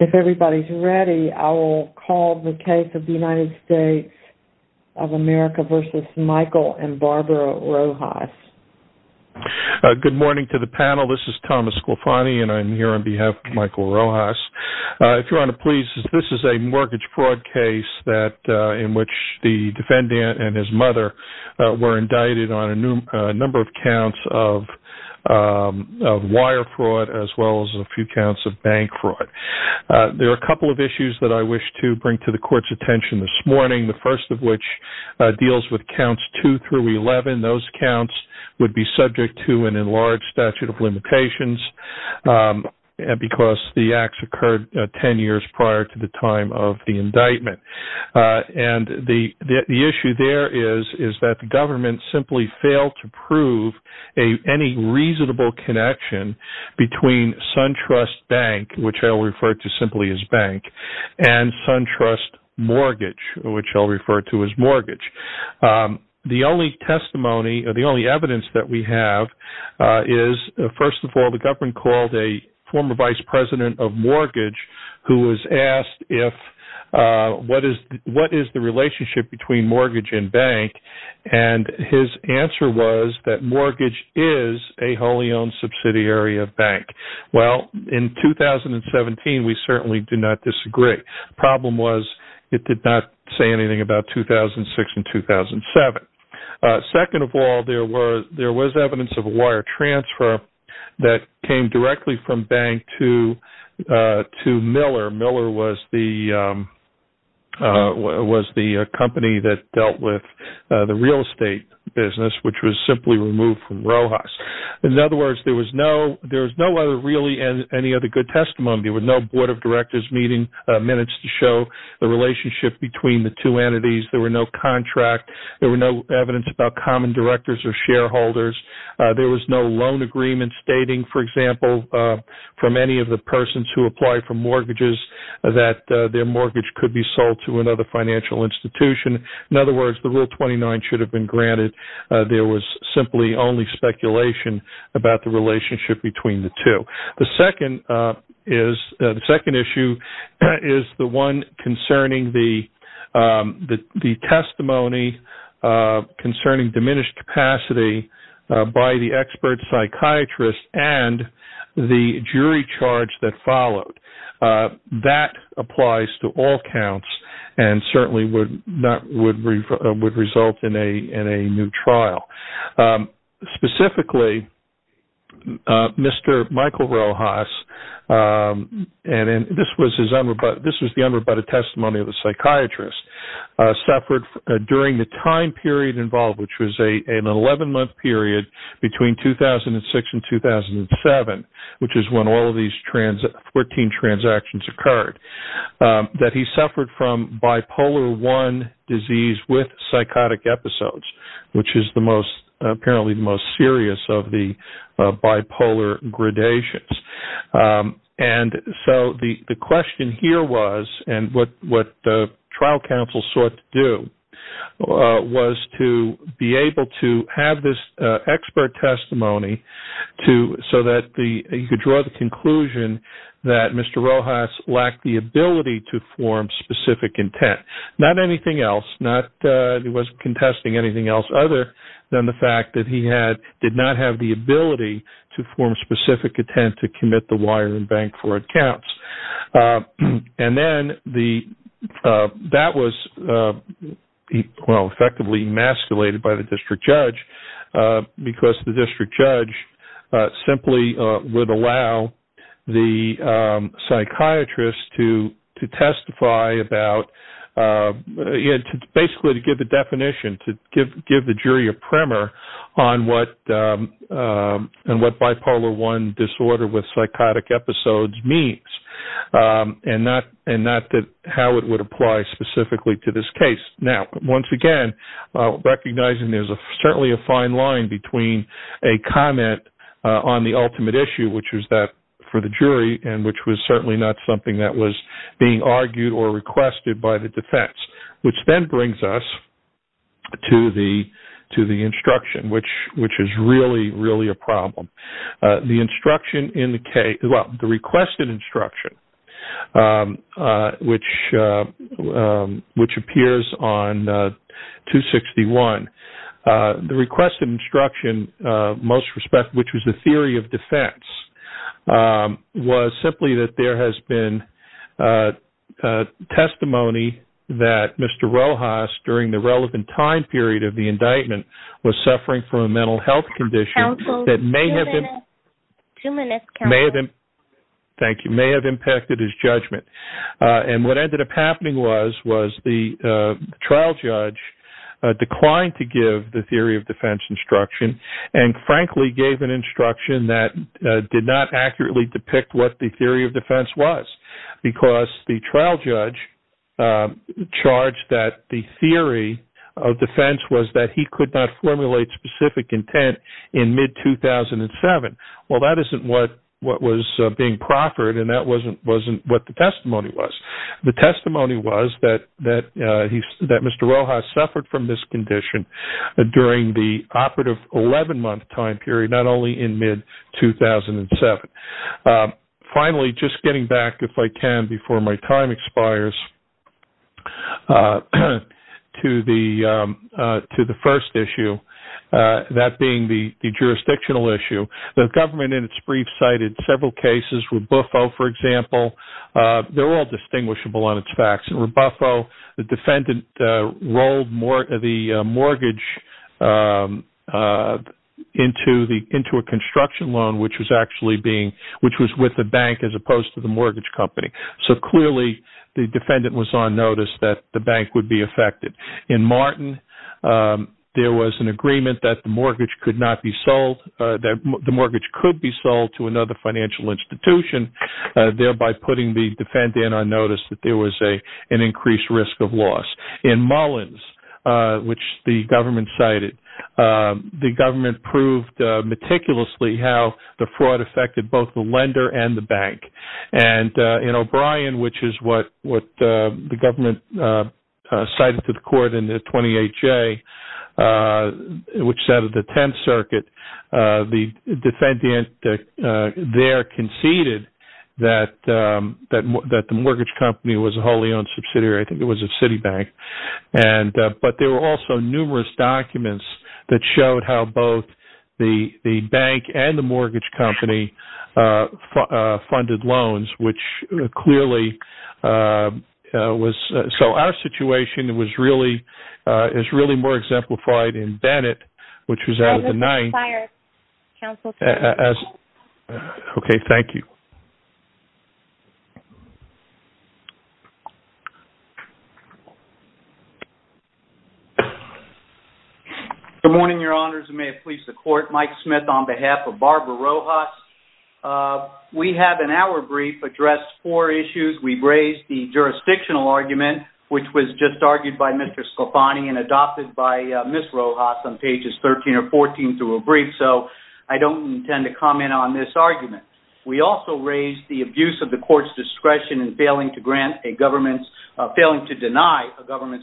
If everybody's ready, I will call the case of the United States of America v. Michael and Barbara Rojas. Good morning to the panel. This is Thomas Sculfani, and I'm here on behalf of Michael Rojas. If you're going to please, this is a mortgage fraud case in which the defendant and his mother were indicted on a number of counts of wire fraud as well as a few counts of bank fraud. There are a couple of issues that I wish to bring to the court's attention this morning, the first of which deals with counts 2 through 11. Those counts would be subject to an enlarged statute of limitations because the acts occurred 10 years prior to the time of the indictment. The issue there is that the government simply failed to prove any reasonable connection between SunTrust Bank, which I'll refer to simply as bank, and SunTrust Mortgage, which I'll refer to as mortgage. The only evidence that we have is, first of all, the government called a former vice president of mortgage who was asked what is the relationship between mortgage and bank, and his answer was that mortgage is a wholly owned subsidiary of bank. In 2017, we certainly do not disagree. The problem was it did not say anything about 2006 and 2007. Second of all, there was evidence of wire transfer that came directly from bank to Miller. Miller was the company that dealt with the real estate business, which was simply removed from Rojas. In other words, there was no really any other good testimony. There were no board of directors' minutes to show the relationship between the two entities. There was no contract. There was no evidence about common directors or shareholders. There was no loan agreement stating, for example, from any of the persons who applied for mortgages that their mortgage could be sold to another financial institution. In other words, Rule 29 should have been granted. There was simply only speculation about the relationship between the two. The second issue is the one concerning the testimony concerning diminished capacity by the expert psychiatrist and the jury charge that followed. That applies to all counts and certainly would result in a new trial. Specifically, Mr. Michael Rojas suffered during the time period involved, which was an 11-month period between 2006 and 2007, which is when all of these 14 transactions occurred. He suffered from Bipolar I disease with psychotic episodes, which is apparently the most serious of the bipolar gradations. The question here and what the trial counsel sought to do was to be able to have this expert testimony so that you could draw the conclusion that Mr. Rojas lacked the ability to form specific intent. He wasn't contesting anything else other than the fact that he did not have the ability to form specific intent to commit the wire and bank fraud counts. That was effectively emasculated by the district judge because the district judge simply would allow the psychiatrist to give the jury a primer on what Bipolar I disorder with psychotic episodes means. That is not how it would apply specifically to this case. Once again, recognizing there is certainly a fine line between a comment on the ultimate issue, which was that for the jury, and which was certainly not something that was being argued or requested by the defense. Which then brings us to the instruction, which is really a problem. The requested instruction, which appears on page 261, which was the theory of defense, was simply that there has been testimony that Mr. Rojas, during the relevant time period of the indictment, was suffering from a mental health condition. It may have impacted his judgment. What ended up happening was that the trial judge declined to give the theory of defense instruction. He frankly gave an instruction that did not accurately depict what the theory of defense was because the trial judge charged that the theory of defense was that he could not formulate specific intent in mid-2007. That is not what was being proffered and that was not what the testimony was. The testimony was that Mr. Rojas suffered from this condition during the operative 11 month time period, not only in mid-2007. Finally, just getting back, if I can, before my time expires, to the first issue, that being the jurisdictional issue. The government, in its brief, cited several cases, Rebuffo, for example. They're all distinguishable on its facts. In Rebuffo, the defendant rolled the mortgage into a construction loan, which was with the bank as opposed to the mortgage company. Clearly, the defendant was on notice that the bank would be affected. In Martin, there was an agreement that the mortgage could be sold to another financial institution, thereby putting the defendant on notice that there was an increased risk of loss. In Mullins, which the government cited, the government proved meticulously how the fraud affected both the lender and the bank. In O'Brien, which is what the government cited to the court in the 28-J, which set up the 10th Circuit, the defendant there conceded that the mortgage company was a wholly owned subsidiary. I think it was a Citibank. But there were also numerous documents that showed how both the bank and the mortgage company funded loans. So our situation is really more exemplified in Bennett, which was out of the ninth. I will not expire, counsel. Okay, thank you. Good morning, your honors. I may have pleased the court. Mike Smith on behalf of Barbara Rojas. We have in our brief addressed four issues. We've raised the jurisdictional argument, which was just argued by Mr. Scafani and adopted by Ms. Rojas on pages 13 or 14 through a brief. So I don't intend to comment on this argument. We also raised the abuse of the court's discretion in failing to deny a government's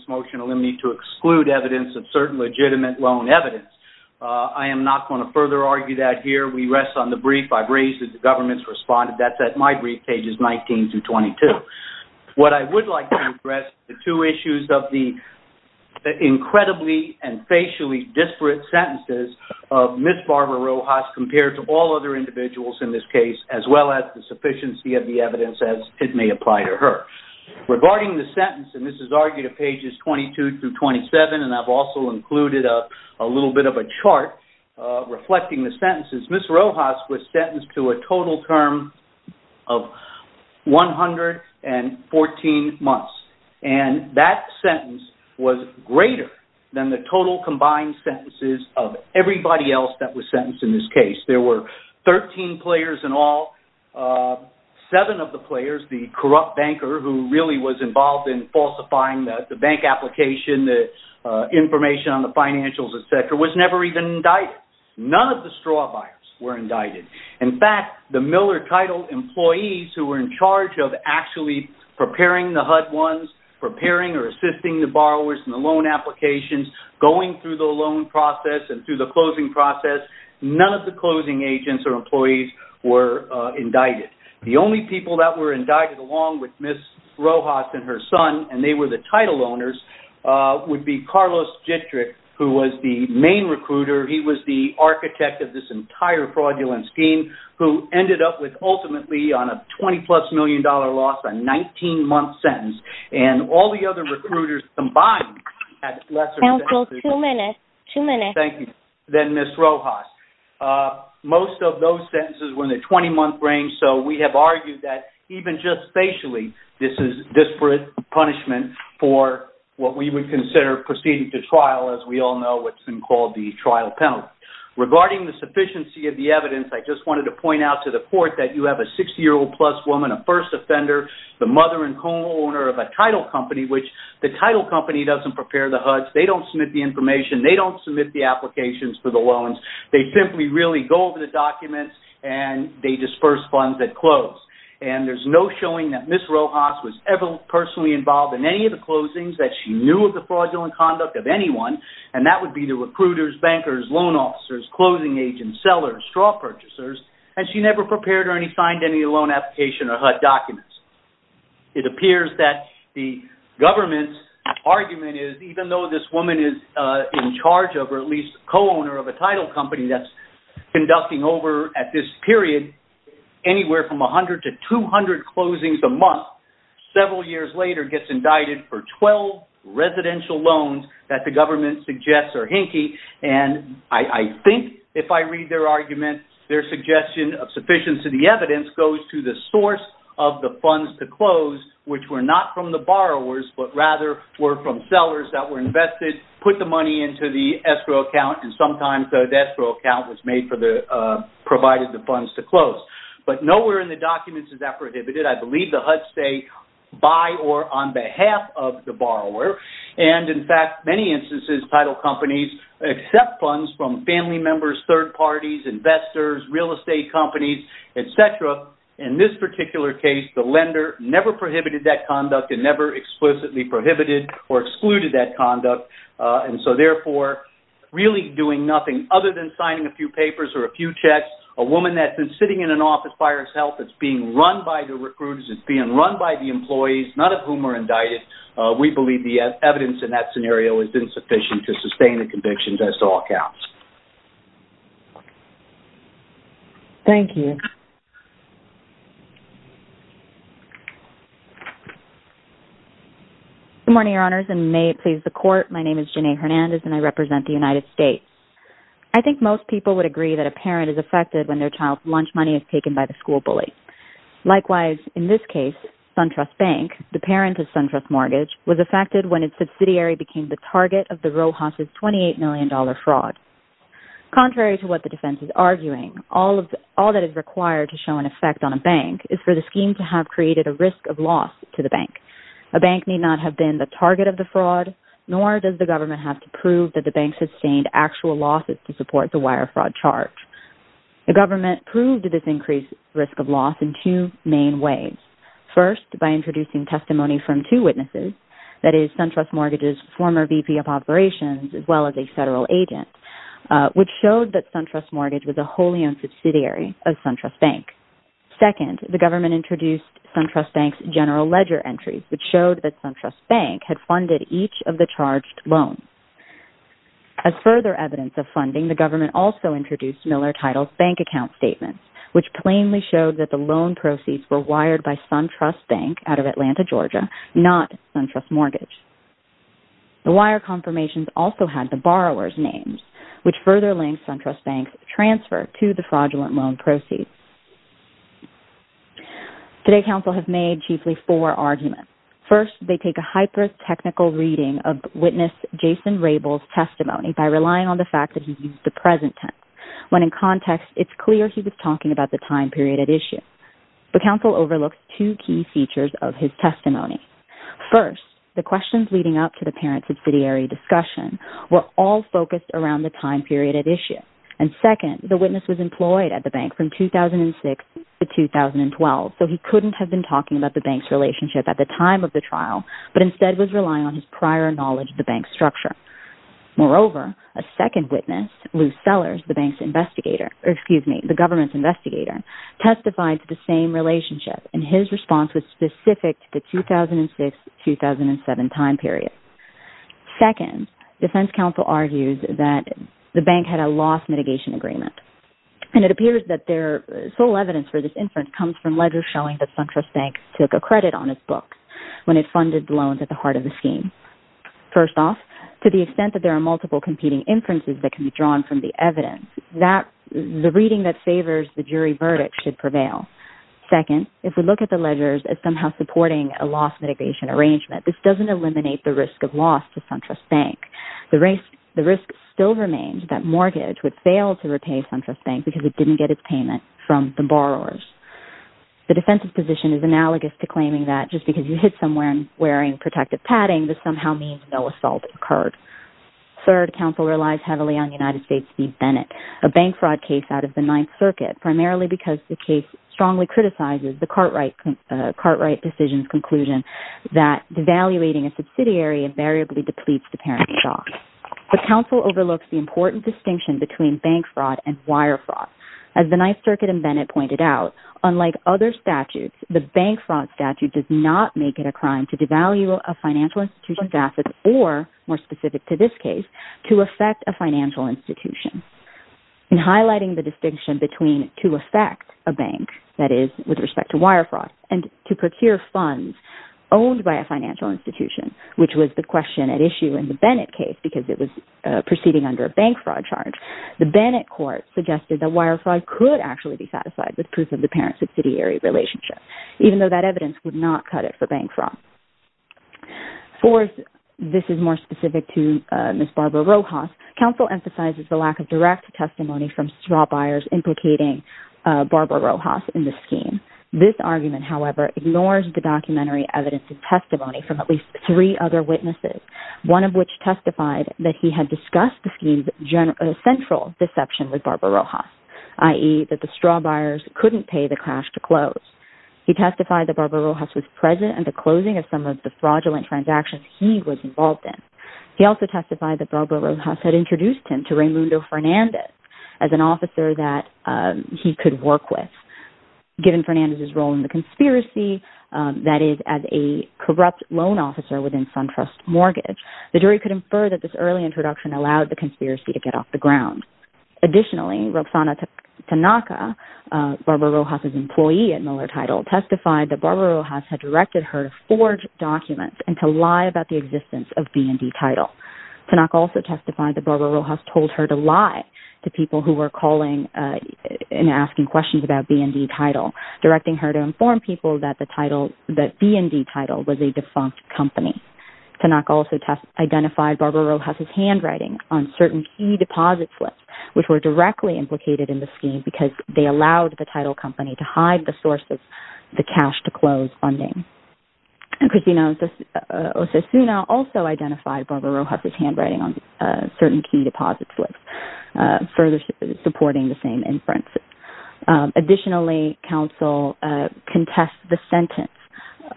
motion to exclude evidence of certain legitimate loan evidence. I am not going to further argue that here. We rest on the brief I've raised that the government's responded. That's at my brief, pages 19 through 22. What I would like to address is the two issues of the incredibly and facially disparate sentences of Ms. Barbara Rojas compared to all other individuals in this case, as well as the sufficiency of the evidence as it may apply to her. Regarding the sentence, and this is argued at pages 22 through 27, and I've also included a little bit of a chart reflecting the sentences. Ms. Rojas was sentenced to a total term of 114 months, and that sentence was greater than the total combined sentences of everybody else that was sentenced in this case. There were 13 players in all. Seven of the players, the corrupt banker who really was involved in falsifying the bank application, the information on the financials, etc., was never even indicted. None of the straw buyers were indicted. In fact, the Miller Title employees who were in charge of actually preparing the HUD ones, preparing or assisting the borrowers in the loan applications, going through the loan process and through the closing process, none of the closing agents or employees were indicted. The only people that were indicted along with Ms. Rojas and her son, and they were the title owners, would be Carlos Jitrick, who was the main recruiter. He was the architect of this entire fraudulence scheme, who ended up with ultimately on a $20-plus million loss, a 19-month sentence. And all the other recruiters combined had less than Ms. Rojas. Most of those sentences were in the 20-month range, so we have argued that even just facially, this is disparate punishment for what we would consider proceeding to trial, as we all know what's been called the trial penalty. Regarding the sufficiency of the evidence, I just wanted to point out to the court that you have a 60-year-old-plus woman, a first offender, the mother and co-owner of a title company, which the title company doesn't prepare the HUDs. They don't submit the information, they don't submit the applications for the loans, they simply really go over the documents and they disperse funds at close. And there's no showing that Ms. Rojas was ever personally involved in any of the closings, that she knew of the fraudulent conduct of anyone, and that would be the recruiters, bankers, loan officers, closing agents, sellers, straw purchasers, and she never prepared or signed any loan application or HUD documents. It appears that the government's argument is, even though this woman is in charge of or at least co-owner of a title company that's conducting over, at this period, anywhere from 100 to 200 closings a month, several years later gets indicted for 12 residential loans that the government suggests are hinky. And I think, if I read their argument, their suggestion of sufficiency of the evidence goes to the source of the funds to close, which were not from the borrowers, but rather were from sellers that were invested, put the money into the escrow account, and sometimes the escrow account was made for the, provided the funds to close. But nowhere in the documents is that prohibited. I believe the HUDs say, by or on behalf of the borrower. And, in fact, many instances, title companies accept funds from family members, third parties, investors, real estate companies, et cetera. In this particular case, the lender never prohibited that conduct and never explicitly prohibited or excluded that conduct. And so, therefore, really doing nothing other than signing a few papers or a few checks, a woman that's been sitting in an office by herself that's being run by the recruiters, that's being run by the employees, none of whom are indicted, we believe the evidence in that scenario is insufficient to sustain the conviction as to all counts. Thank you. Contrary to what the defense is arguing, all that is required to show an effect on a bank is for the scheme to have created a risk of loss to the bank. A bank need not have been the target of the fraud, nor does the government have to prove that the bank sustained actual losses to support the wire fraud charge. The government proved this increased risk of loss in two main ways. First, by introducing testimony from two witnesses, that is, SunTrust Mortgage's former VP of operations as well as a federal agent, which showed that SunTrust Mortgage was a wholly owned subsidiary of SunTrust Bank. Second, the government introduced SunTrust Bank's general ledger entries, which showed that SunTrust Bank had funded each of the charged loans. As further evidence of funding, the government also introduced Miller Title's bank account statements, which plainly showed that the loan proceeds were wired by SunTrust Bank out of Atlanta, Georgia, not SunTrust Mortgage. The wire confirmations also had the borrower's names, which further linked SunTrust Bank's transfer to the fraudulent loan proceeds. Today, counsel have made chiefly four arguments. First, they take a hyper-technical reading of witness Jason Rabel's testimony by relying on the fact that he used the present tense, when in context, it's clear he was talking about the time period at issue. The counsel overlooks two key features of his testimony. First, the questions leading up to the parent subsidiary discussion were all focused around the time period at issue. And second, the witness was employed at the bank from 2006 to 2012, so he couldn't have been talking about the bank's relationship at the time of the trial, but instead was relying on his prior knowledge of the bank's structure. Moreover, a second witness, Lou Sellers, the government's investigator, testified to the same relationship, and his response was specific to the 2006-2007 time period. Second, defense counsel argues that the bank had a loss mitigation agreement, and it appears that their sole evidence for this inference comes from letters showing that SunTrust Bank took a credit on its books when it funded loans at the heart of the scheme. First off, to the extent that there are multiple competing inferences that can be drawn from the evidence, the reading that favors the jury verdict should prevail. Second, if we look at the ledgers as somehow supporting a loss mitigation arrangement, this doesn't eliminate the risk of loss to SunTrust Bank. The risk still remains that Mortgage would fail to repay SunTrust Bank because it didn't get its payment from the borrowers. The defense's position is analogous to claiming that just because you hit someone wearing protective padding, this somehow means no assault occurred. Third, counsel relies heavily on the United States v. Bennett, a bank fraud case out of the Ninth Circuit, primarily because the case strongly criticizes the Cartwright decision's conclusion that devaluating a subsidiary invariably depletes the parent stock. But counsel overlooks the important distinction between bank fraud and wire fraud. As the Ninth Circuit and Bennett pointed out, unlike other statutes, the bank fraud statute does not make it a crime to devalue a financial institution's assets or, more specific to this case, to affect a financial institution. In highlighting the distinction between to affect a bank, that is, with respect to wire fraud, and to procure funds owned by a financial institution, which was the question at issue in the Bennett case because it was proceeding under a bank fraud charge, the Bennett court suggested that wire fraud could actually be satisfied with proof of the parent-subsidiary relationship, even though that evidence would not cut it for bank fraud. Fourth, this is more specific to Ms. Barbara Rojas, counsel emphasizes the lack of direct testimony from straw buyers implicating Barbara Rojas in the scheme. This argument, however, ignores the documentary evidence of testimony from at least three other witnesses, one of which testified that he had discussed the scheme's central deception with Barbara Rojas, i.e., that the straw buyers couldn't pay the cash to close. He testified that Barbara Rojas was present at the closing of some of the fraudulent transactions he was involved in. He also testified that Barbara Rojas had introduced him to Raymundo Fernandez as an officer that he could work with. Given Fernandez's role in the conspiracy, that is, as a corrupt loan officer within SunTrust Mortgage, the jury could infer that this early introduction allowed the conspiracy to get off the ground. Additionally, Roxana Tanaka, Barbara Rojas' employee at Miller Title, testified that Barbara Rojas had directed her to forge documents and to lie about the existence of B&D Title. Tanaka also testified that Barbara Rojas told her to lie to people who were calling and asking questions about B&D Title, directing her to inform people that B&D Title was a defunct company. Tanaka also identified Barbara Rojas' handwriting on certain key deposit slips, which were directly implicated in the scheme because they allowed the title company to hide the source of the cash-to-close funding. Christina Osasuna also identified Barbara Rojas' handwriting on certain key deposit slips, further supporting the same inferences. Additionally, counsel contested the sentence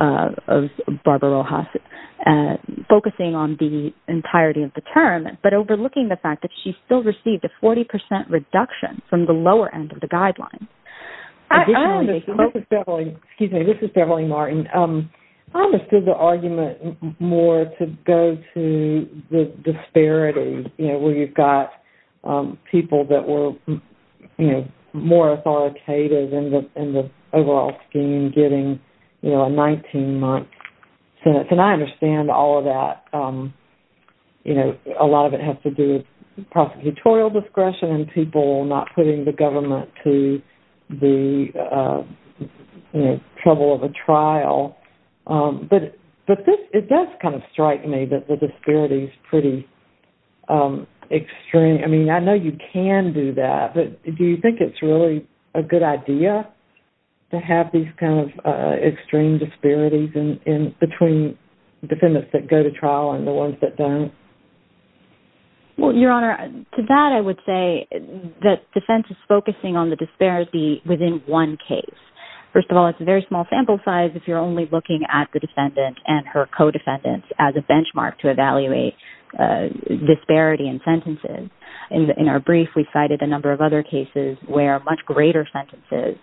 of Barbara Rojas, focusing on the entirety of the term, but overlooking the fact that she still received a 40% reduction from the lower end of the guidelines. Excuse me, this is Beverly Martin. I understood the argument more to go to the disparity, you know, where you've got people that were, you know, more authoritative in the overall scheme getting, you know, a 19-month sentence. And I understand all of that. You know, a lot of it has to do with prosecutorial discretion and people not putting the government to the, you know, trouble of a trial. But it does kind of strike me that the disparity is pretty extreme. I mean, I know you can do that, but do you think it's really a good idea to have these kind of extreme disparities between defendants that go to trial and the ones that don't? Well, Your Honor, to that I would say that defense is focusing on the disparity within one case. First of all, it's a very small sample size if you're only looking at the defendant and her co-defendants as a benchmark to evaluate disparity in sentences. In our brief, we cited a number of other cases where much greater sentences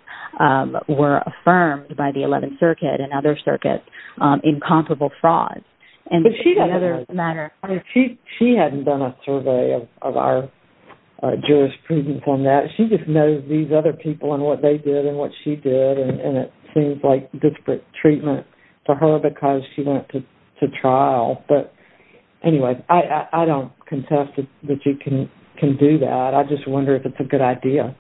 were affirmed by the 11th Circuit and other circuits in comparable fraud. She hasn't done a survey of our jurisprudence on that. She just knows these other people and what they did and what she did. And it seems like disparate treatment to her because she went to trial. But anyway, I don't contest that you can do that. I just wonder if it's a good idea.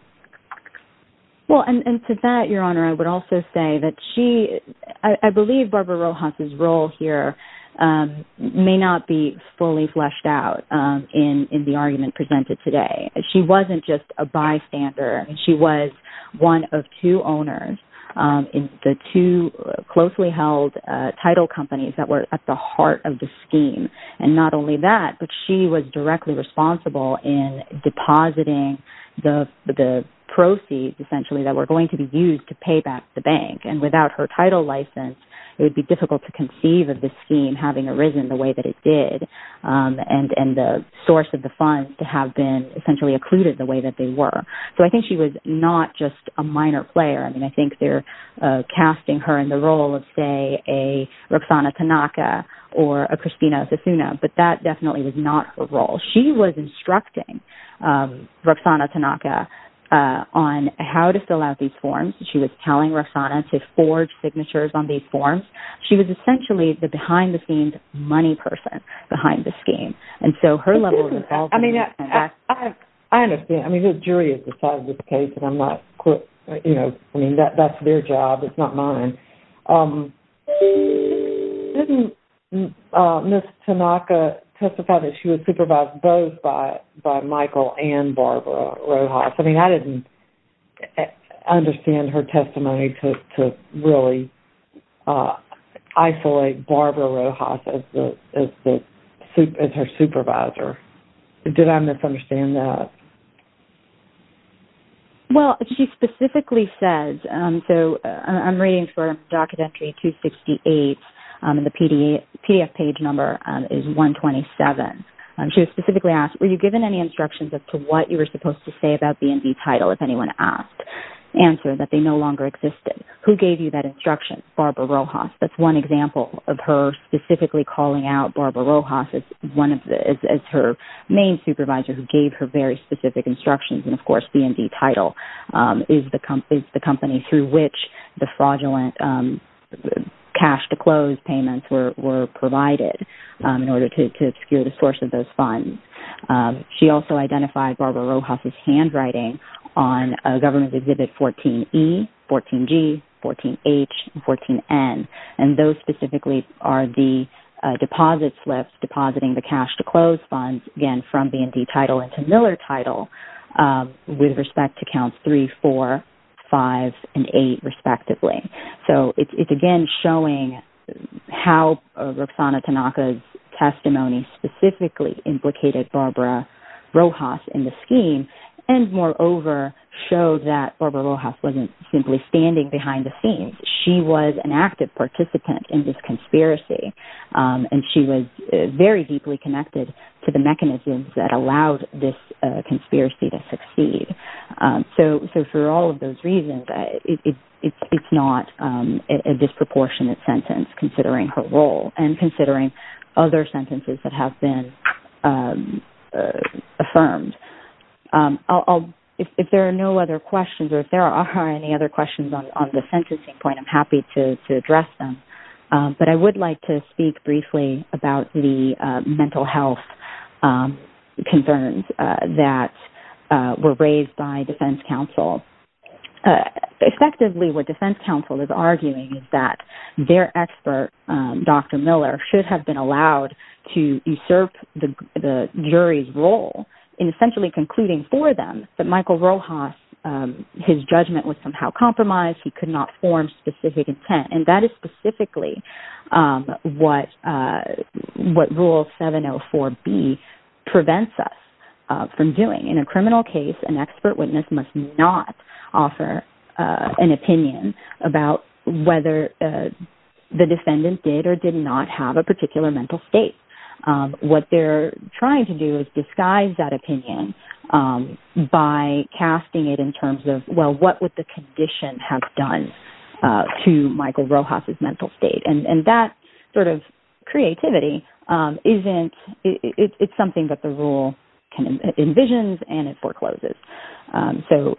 Well, and to that, Your Honor, I would also say that I believe Barbara Rojas' role here may not be fully fleshed out in the argument presented today. She wasn't just a bystander. She was one of two owners in the two closely held title companies that were at the heart of the scheme. And not only that, but she was directly responsible in depositing the proceeds, essentially, that were going to be used to pay back the bank. And without her title license, it would be difficult to conceive of the scheme having arisen the way that it did and the source of the funds to have been essentially occluded the way that they were. So I think she was not just a minor player. I mean, I think they're casting her in the role of, say, a Roxana Tanaka or a Christina Osasuna. But that definitely was not her role. She was instructing Roxana Tanaka on how to fill out these forms. She was telling Roxana to forge signatures on these forms. She was essentially the behind-the-scenes money person behind the scheme. I mean, I understand. I mean, the jury has decided the case, and I'm not, you know, I mean, that's their job. It's not mine. Didn't Ms. Tanaka testify that she was supervised both by Michael and Barbara Rojas? I mean, I didn't understand her testimony to really isolate Barbara Rojas as her supervisor. Did I misunderstand that? Well, she specifically says, so I'm reading from docket entry 268, and the PDF page number is 127. She was specifically asked, were you given any instructions as to what you were supposed to say about B&B title if anyone asked? Answer, that they no longer existed. Who gave you that instruction? Barbara Rojas. That's one example of her specifically calling out Barbara Rojas as her main supervisor who gave her very specific instructions. And, of course, B&B title is the company through which the fraudulent cash-to-clothes payments were provided in order to secure the source of those funds. She also identified Barbara Rojas' handwriting on a government exhibit 14E, 14G, 14H, and 14N. And those specifically are the deposit slips, depositing the cash-to-clothes funds, again, from B&B title into Miller title with respect to counts 3, 4, 5, and 8 respectively. So, it's, again, showing how Roxana Tanaka's testimony specifically implicated Barbara Rojas in the scheme, and, moreover, shows that Barbara Rojas wasn't simply standing behind the scenes. She was an active participant in this conspiracy, and she was very deeply connected to the mechanisms that allowed this conspiracy to succeed. So, for all of those reasons, it's not a disproportionate sentence considering her role and considering other sentences that have been affirmed. If there are no other questions, or if there are any other questions on the sentencing point, I'm happy to address them. But I would like to speak briefly about the mental health concerns that were raised by defense counsel. Effectively, what defense counsel is arguing is that their expert, Dr. Miller, should have been allowed to usurp the jury's role in essentially concluding for them that Michael Rojas, his judgment was somehow compromised. He could not form specific intent, and that is specifically what Rule 704B prevents us from doing. In a criminal case, an expert witness must not offer an opinion about whether the defendant did or did not have a particular mental state. What they're trying to do is disguise that opinion by casting it in terms of, well, what would the condition have done to Michael Rojas' mental state? And that sort of creativity, it's something that the rule envisions and it forecloses. So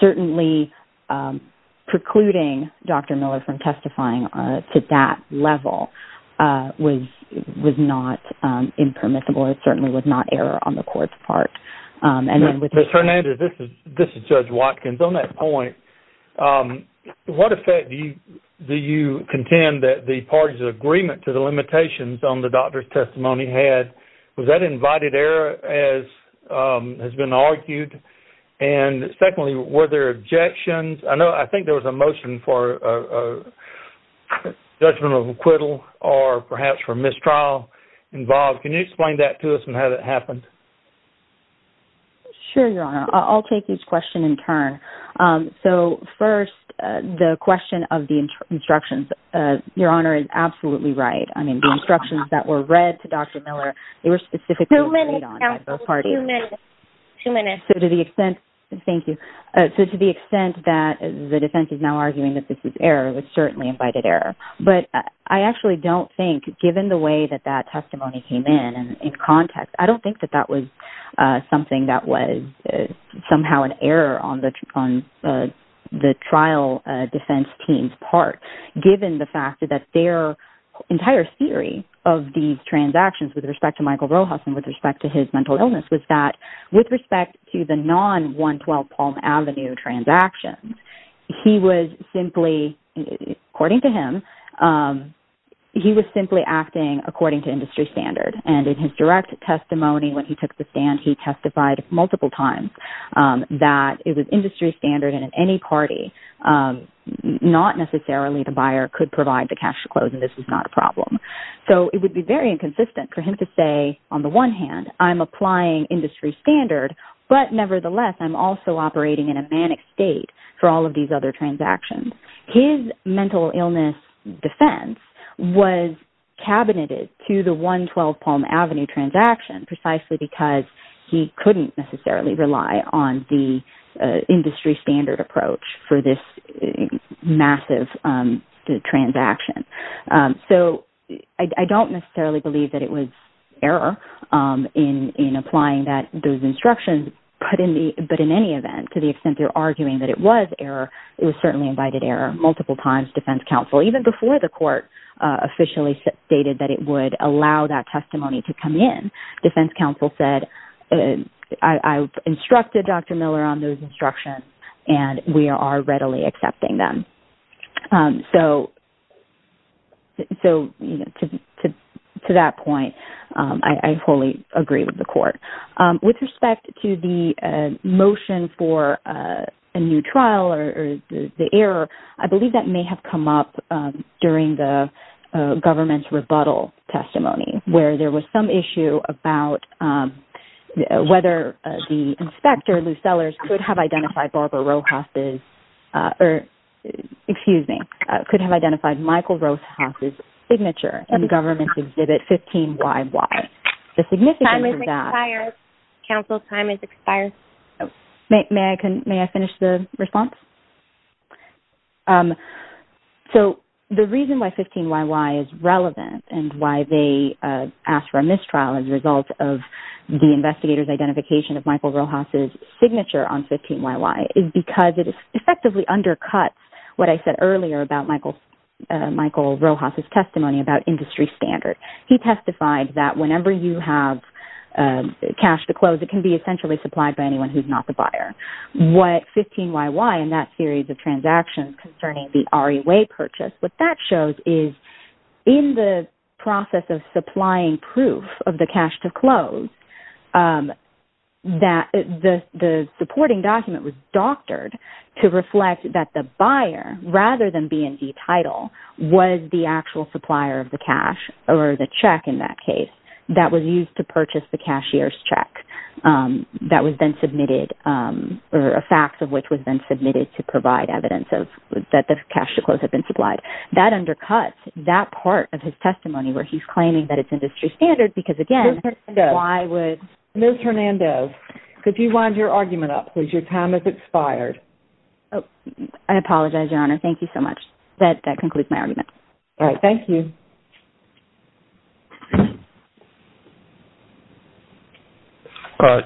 certainly precluding Dr. Miller from testifying to that level was not impermissible. It certainly was not error on the court's part. Ms. Hernandez, this is Judge Watkins. On that point, what effect do you contend that the parties' agreement to the limitations on the doctor's testimony had? Was that invited error as has been argued? And secondly, were there objections? I think there was a motion for judgment of acquittal or perhaps for mistrial involved. Can you explain that to us and how that happened? Sure, Your Honor. I'll take each question in turn. So first, the question of the instructions, Your Honor, is absolutely right. I mean, the instructions that were read to Dr. Miller, they were specifically read on by both parties. Two minutes, counsel. Two minutes. So to the extent that the defense is now arguing that this is error, it was certainly invited error. But I actually don't think, given the way that that testimony came in and in context, I don't think that that was something that was somehow an error on the trial defense team's part, given the fact that their entire theory of these transactions with respect to Michael Rojas and with respect to his mental illness was that with respect to the non-112 Palm Avenue transactions, he was simply, according to him, he was simply acting according to industry standard. And in his direct testimony when he took the stand, he testified multiple times that it was industry standard and in any party, not necessarily the buyer could provide the cash to close and this was not a problem. So it would be very inconsistent for him to say, on the one hand, I'm applying industry standard, but nevertheless, I'm also operating in a manic state for all of these other transactions. His mental illness defense was cabineted to the 112 Palm Avenue transaction precisely because he couldn't necessarily rely on the industry standard approach for this massive transaction. So I don't necessarily believe that it was error in applying those instructions, but in any event, to the extent they're arguing that it was error, it was certainly invited error. Multiple times defense counsel, even before the court officially stated that it would allow that testimony to come in, defense counsel said, I've instructed Dr. Miller on those instructions and we are readily accepting them. So to that point, I fully agree with the court. With respect to the motion for a new trial or the error, I believe that may have come up during the government's rebuttal testimony where there was some issue about whether the inspector, Lou Sellers, could have identified Barbara Rojas's, or excuse me, could have identified Michael Rojas's signature in the government's exhibit 15YY. The significance of that... Time has expired. Counsel, time has expired. May I finish the response? So the reason why 15YY is relevant and why they asked for a mistrial as a result of the investigator's identification of Michael Rojas's signature on 15YY is because it effectively undercuts what I said earlier about Michael Rojas's testimony about industry standard. He testified that whenever you have cash to close, it can be essentially supplied by anyone who's not the buyer. What 15YY in that series of transactions concerning the REA purchase, what that shows is in the process of supplying proof of the cash to close, the supporting document was doctored to reflect that the buyer, rather than being the title, was the actual supplier of the cash or the check in that case that was used to purchase the cashier's check. That was then submitted, or a fact of which was then submitted to provide evidence that the cash to close had been supplied. That undercuts that part of his testimony where he's claiming that it's industry standard because, again, why would... Ms. Hernandoz, could you wind your argument up, please? Your time has expired. I apologize, Your Honor. Thank you so much. That concludes my argument. All right. Thank you.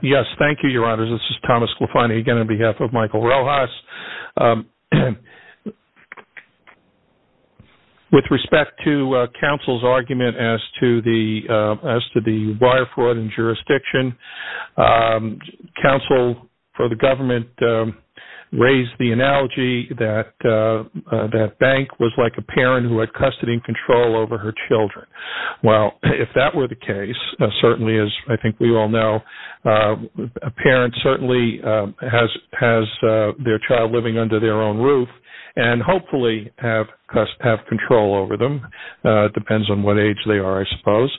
Yes, thank you, Your Honor. This is Thomas Clefany again on behalf of Michael Rojas. With respect to counsel's argument as to the buyer fraud and jurisdiction, counsel for the government raised the analogy that that bank was like a parent who had custody and control over her children. Well, if that were the case, certainly as I think we all know, a parent certainly has their child living under their own roof and hopefully have control over them. It depends on what age they are, I suppose.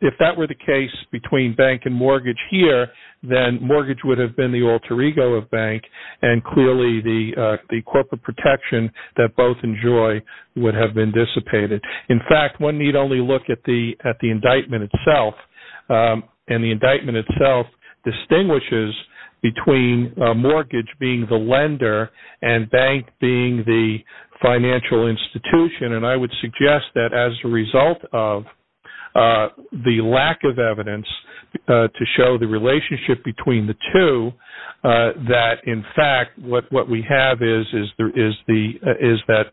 If that were the case between bank and mortgage here, then mortgage would have been the alter ego of bank and clearly the corporate protection that both enjoy would have been dissipated. In fact, one need only look at the indictment itself, and the indictment itself distinguishes between mortgage being the lender and bank being the financial institution. I would suggest that as a result of the lack of evidence to show the relationship between the two, that in fact what we have is that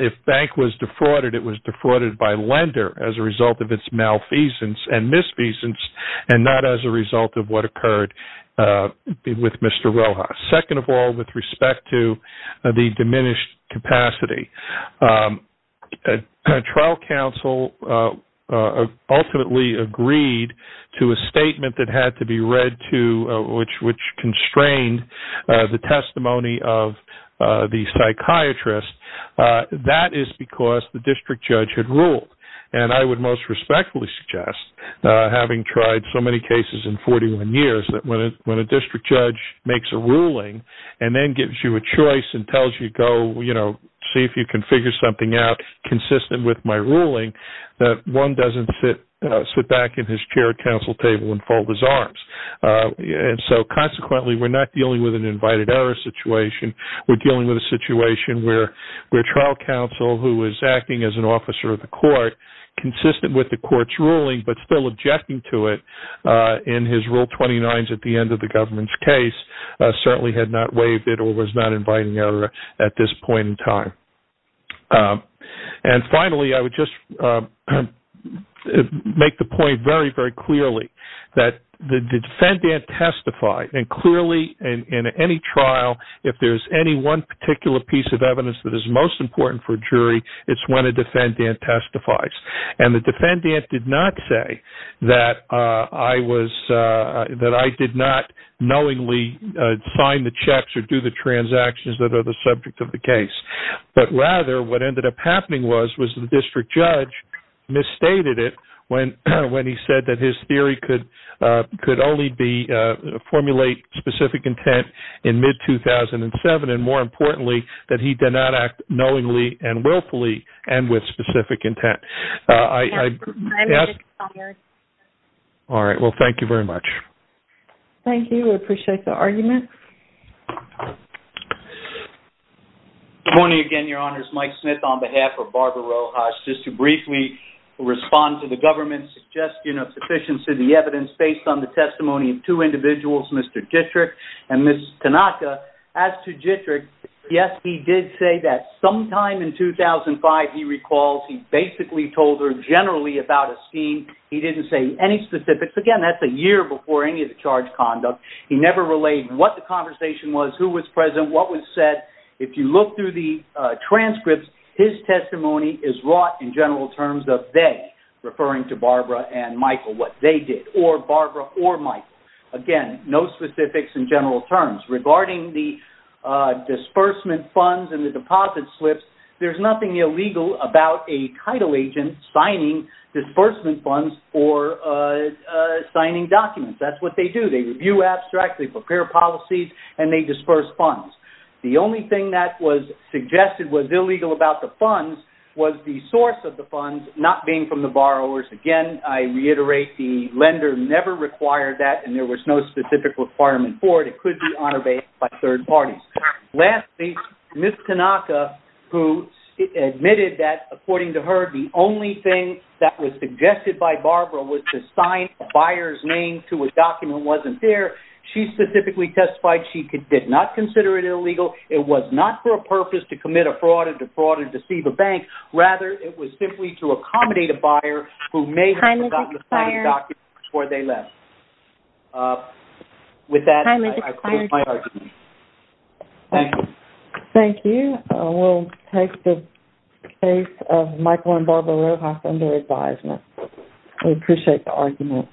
if bank was defrauded, it was defrauded by lender as a result of its malfeasance and misfeasance and not as a result of what occurred with Mr. Rojas. Second of all, with respect to the diminished capacity, trial counsel ultimately agreed to a statement that had to be read to which constrained the testimony of the psychiatrist. That is because the district judge had ruled and I would most respectfully suggest having tried so many cases in 41 years that when a district judge makes a ruling and then gives you a choice and tells you to go see if you can figure something out consistent with my ruling, that one doesnít sit back in his chair counsel table and fold his arms. Consequently, weíre not dealing with an invited error situation. Weíre dealing with a situation where trial counsel who was acting as an officer of the court consistent with the courtís ruling but still objecting to it in his rule 29 at the end of the governmentís case certainly had not waived it or was not inviting error at this point in time. Finally, I would just make the point very clearly that the defendant testified and clearly in any trial if thereís any one particular piece of evidence that is most important for jury, itís when a defendant testifies. The defendant did not say that I did not knowingly sign the checks or do the transactions that are the subject of the case. But rather what ended up happening was the district judge misstated it when he said that his theory could only formulate specific intent in mid-2007 and more importantly that he did not act knowingly and willfully and with specific intent. Thank you very much. Thank you. I appreciate the argument. Good morning again, Your Honor. Itís Mike Smith on behalf of Barbara Rojas. Just to briefly respond to the governmentís suggestion of sufficiency of the evidence based on the testimony of two individuals, Mr. Jitrick and Ms. Tanaka. As to Jitrick, yes, he did say that sometime in 2005 he recalls he basically told her generally about a scheme. He didnít say any specifics. Again, thatís a year before any of the charged conduct. He never relayed what the conversation was, who was present, what was said. If you look through the transcripts, his testimony is wrought in general terms of they, referring to Barbara and Michael, what they did, or Barbara or Michael. Again, no specifics in general terms. Regarding the disbursement funds and the deposit slips, thereís nothing illegal about a title agent signing disbursement funds or signing documents. Thatís what they do. They review abstracts, they prepare policies, and they disperse funds. The only thing that was suggested was illegal about the funds was the source of the funds not being from the borrowers. Again, I reiterate, the lender never required that and there was no specific requirement for it. It could be honor-based by third parties. Lastly, Ms. Tanaka, who admitted that, according to her, the only thing that was suggested by Barbara was to sign a buyerís name to a document wasnít there. She specifically testified she did not consider it illegal. It was not for a purpose to commit a fraud or defraud or deceive a bank. Rather, it was simply to accommodate a buyer who may have forgotten to sign a document before they left. With that, I close my argument. Thank you. Thank you. Weíll take the case of Michael and Barbara Rojas under advisement. We appreciate the argument.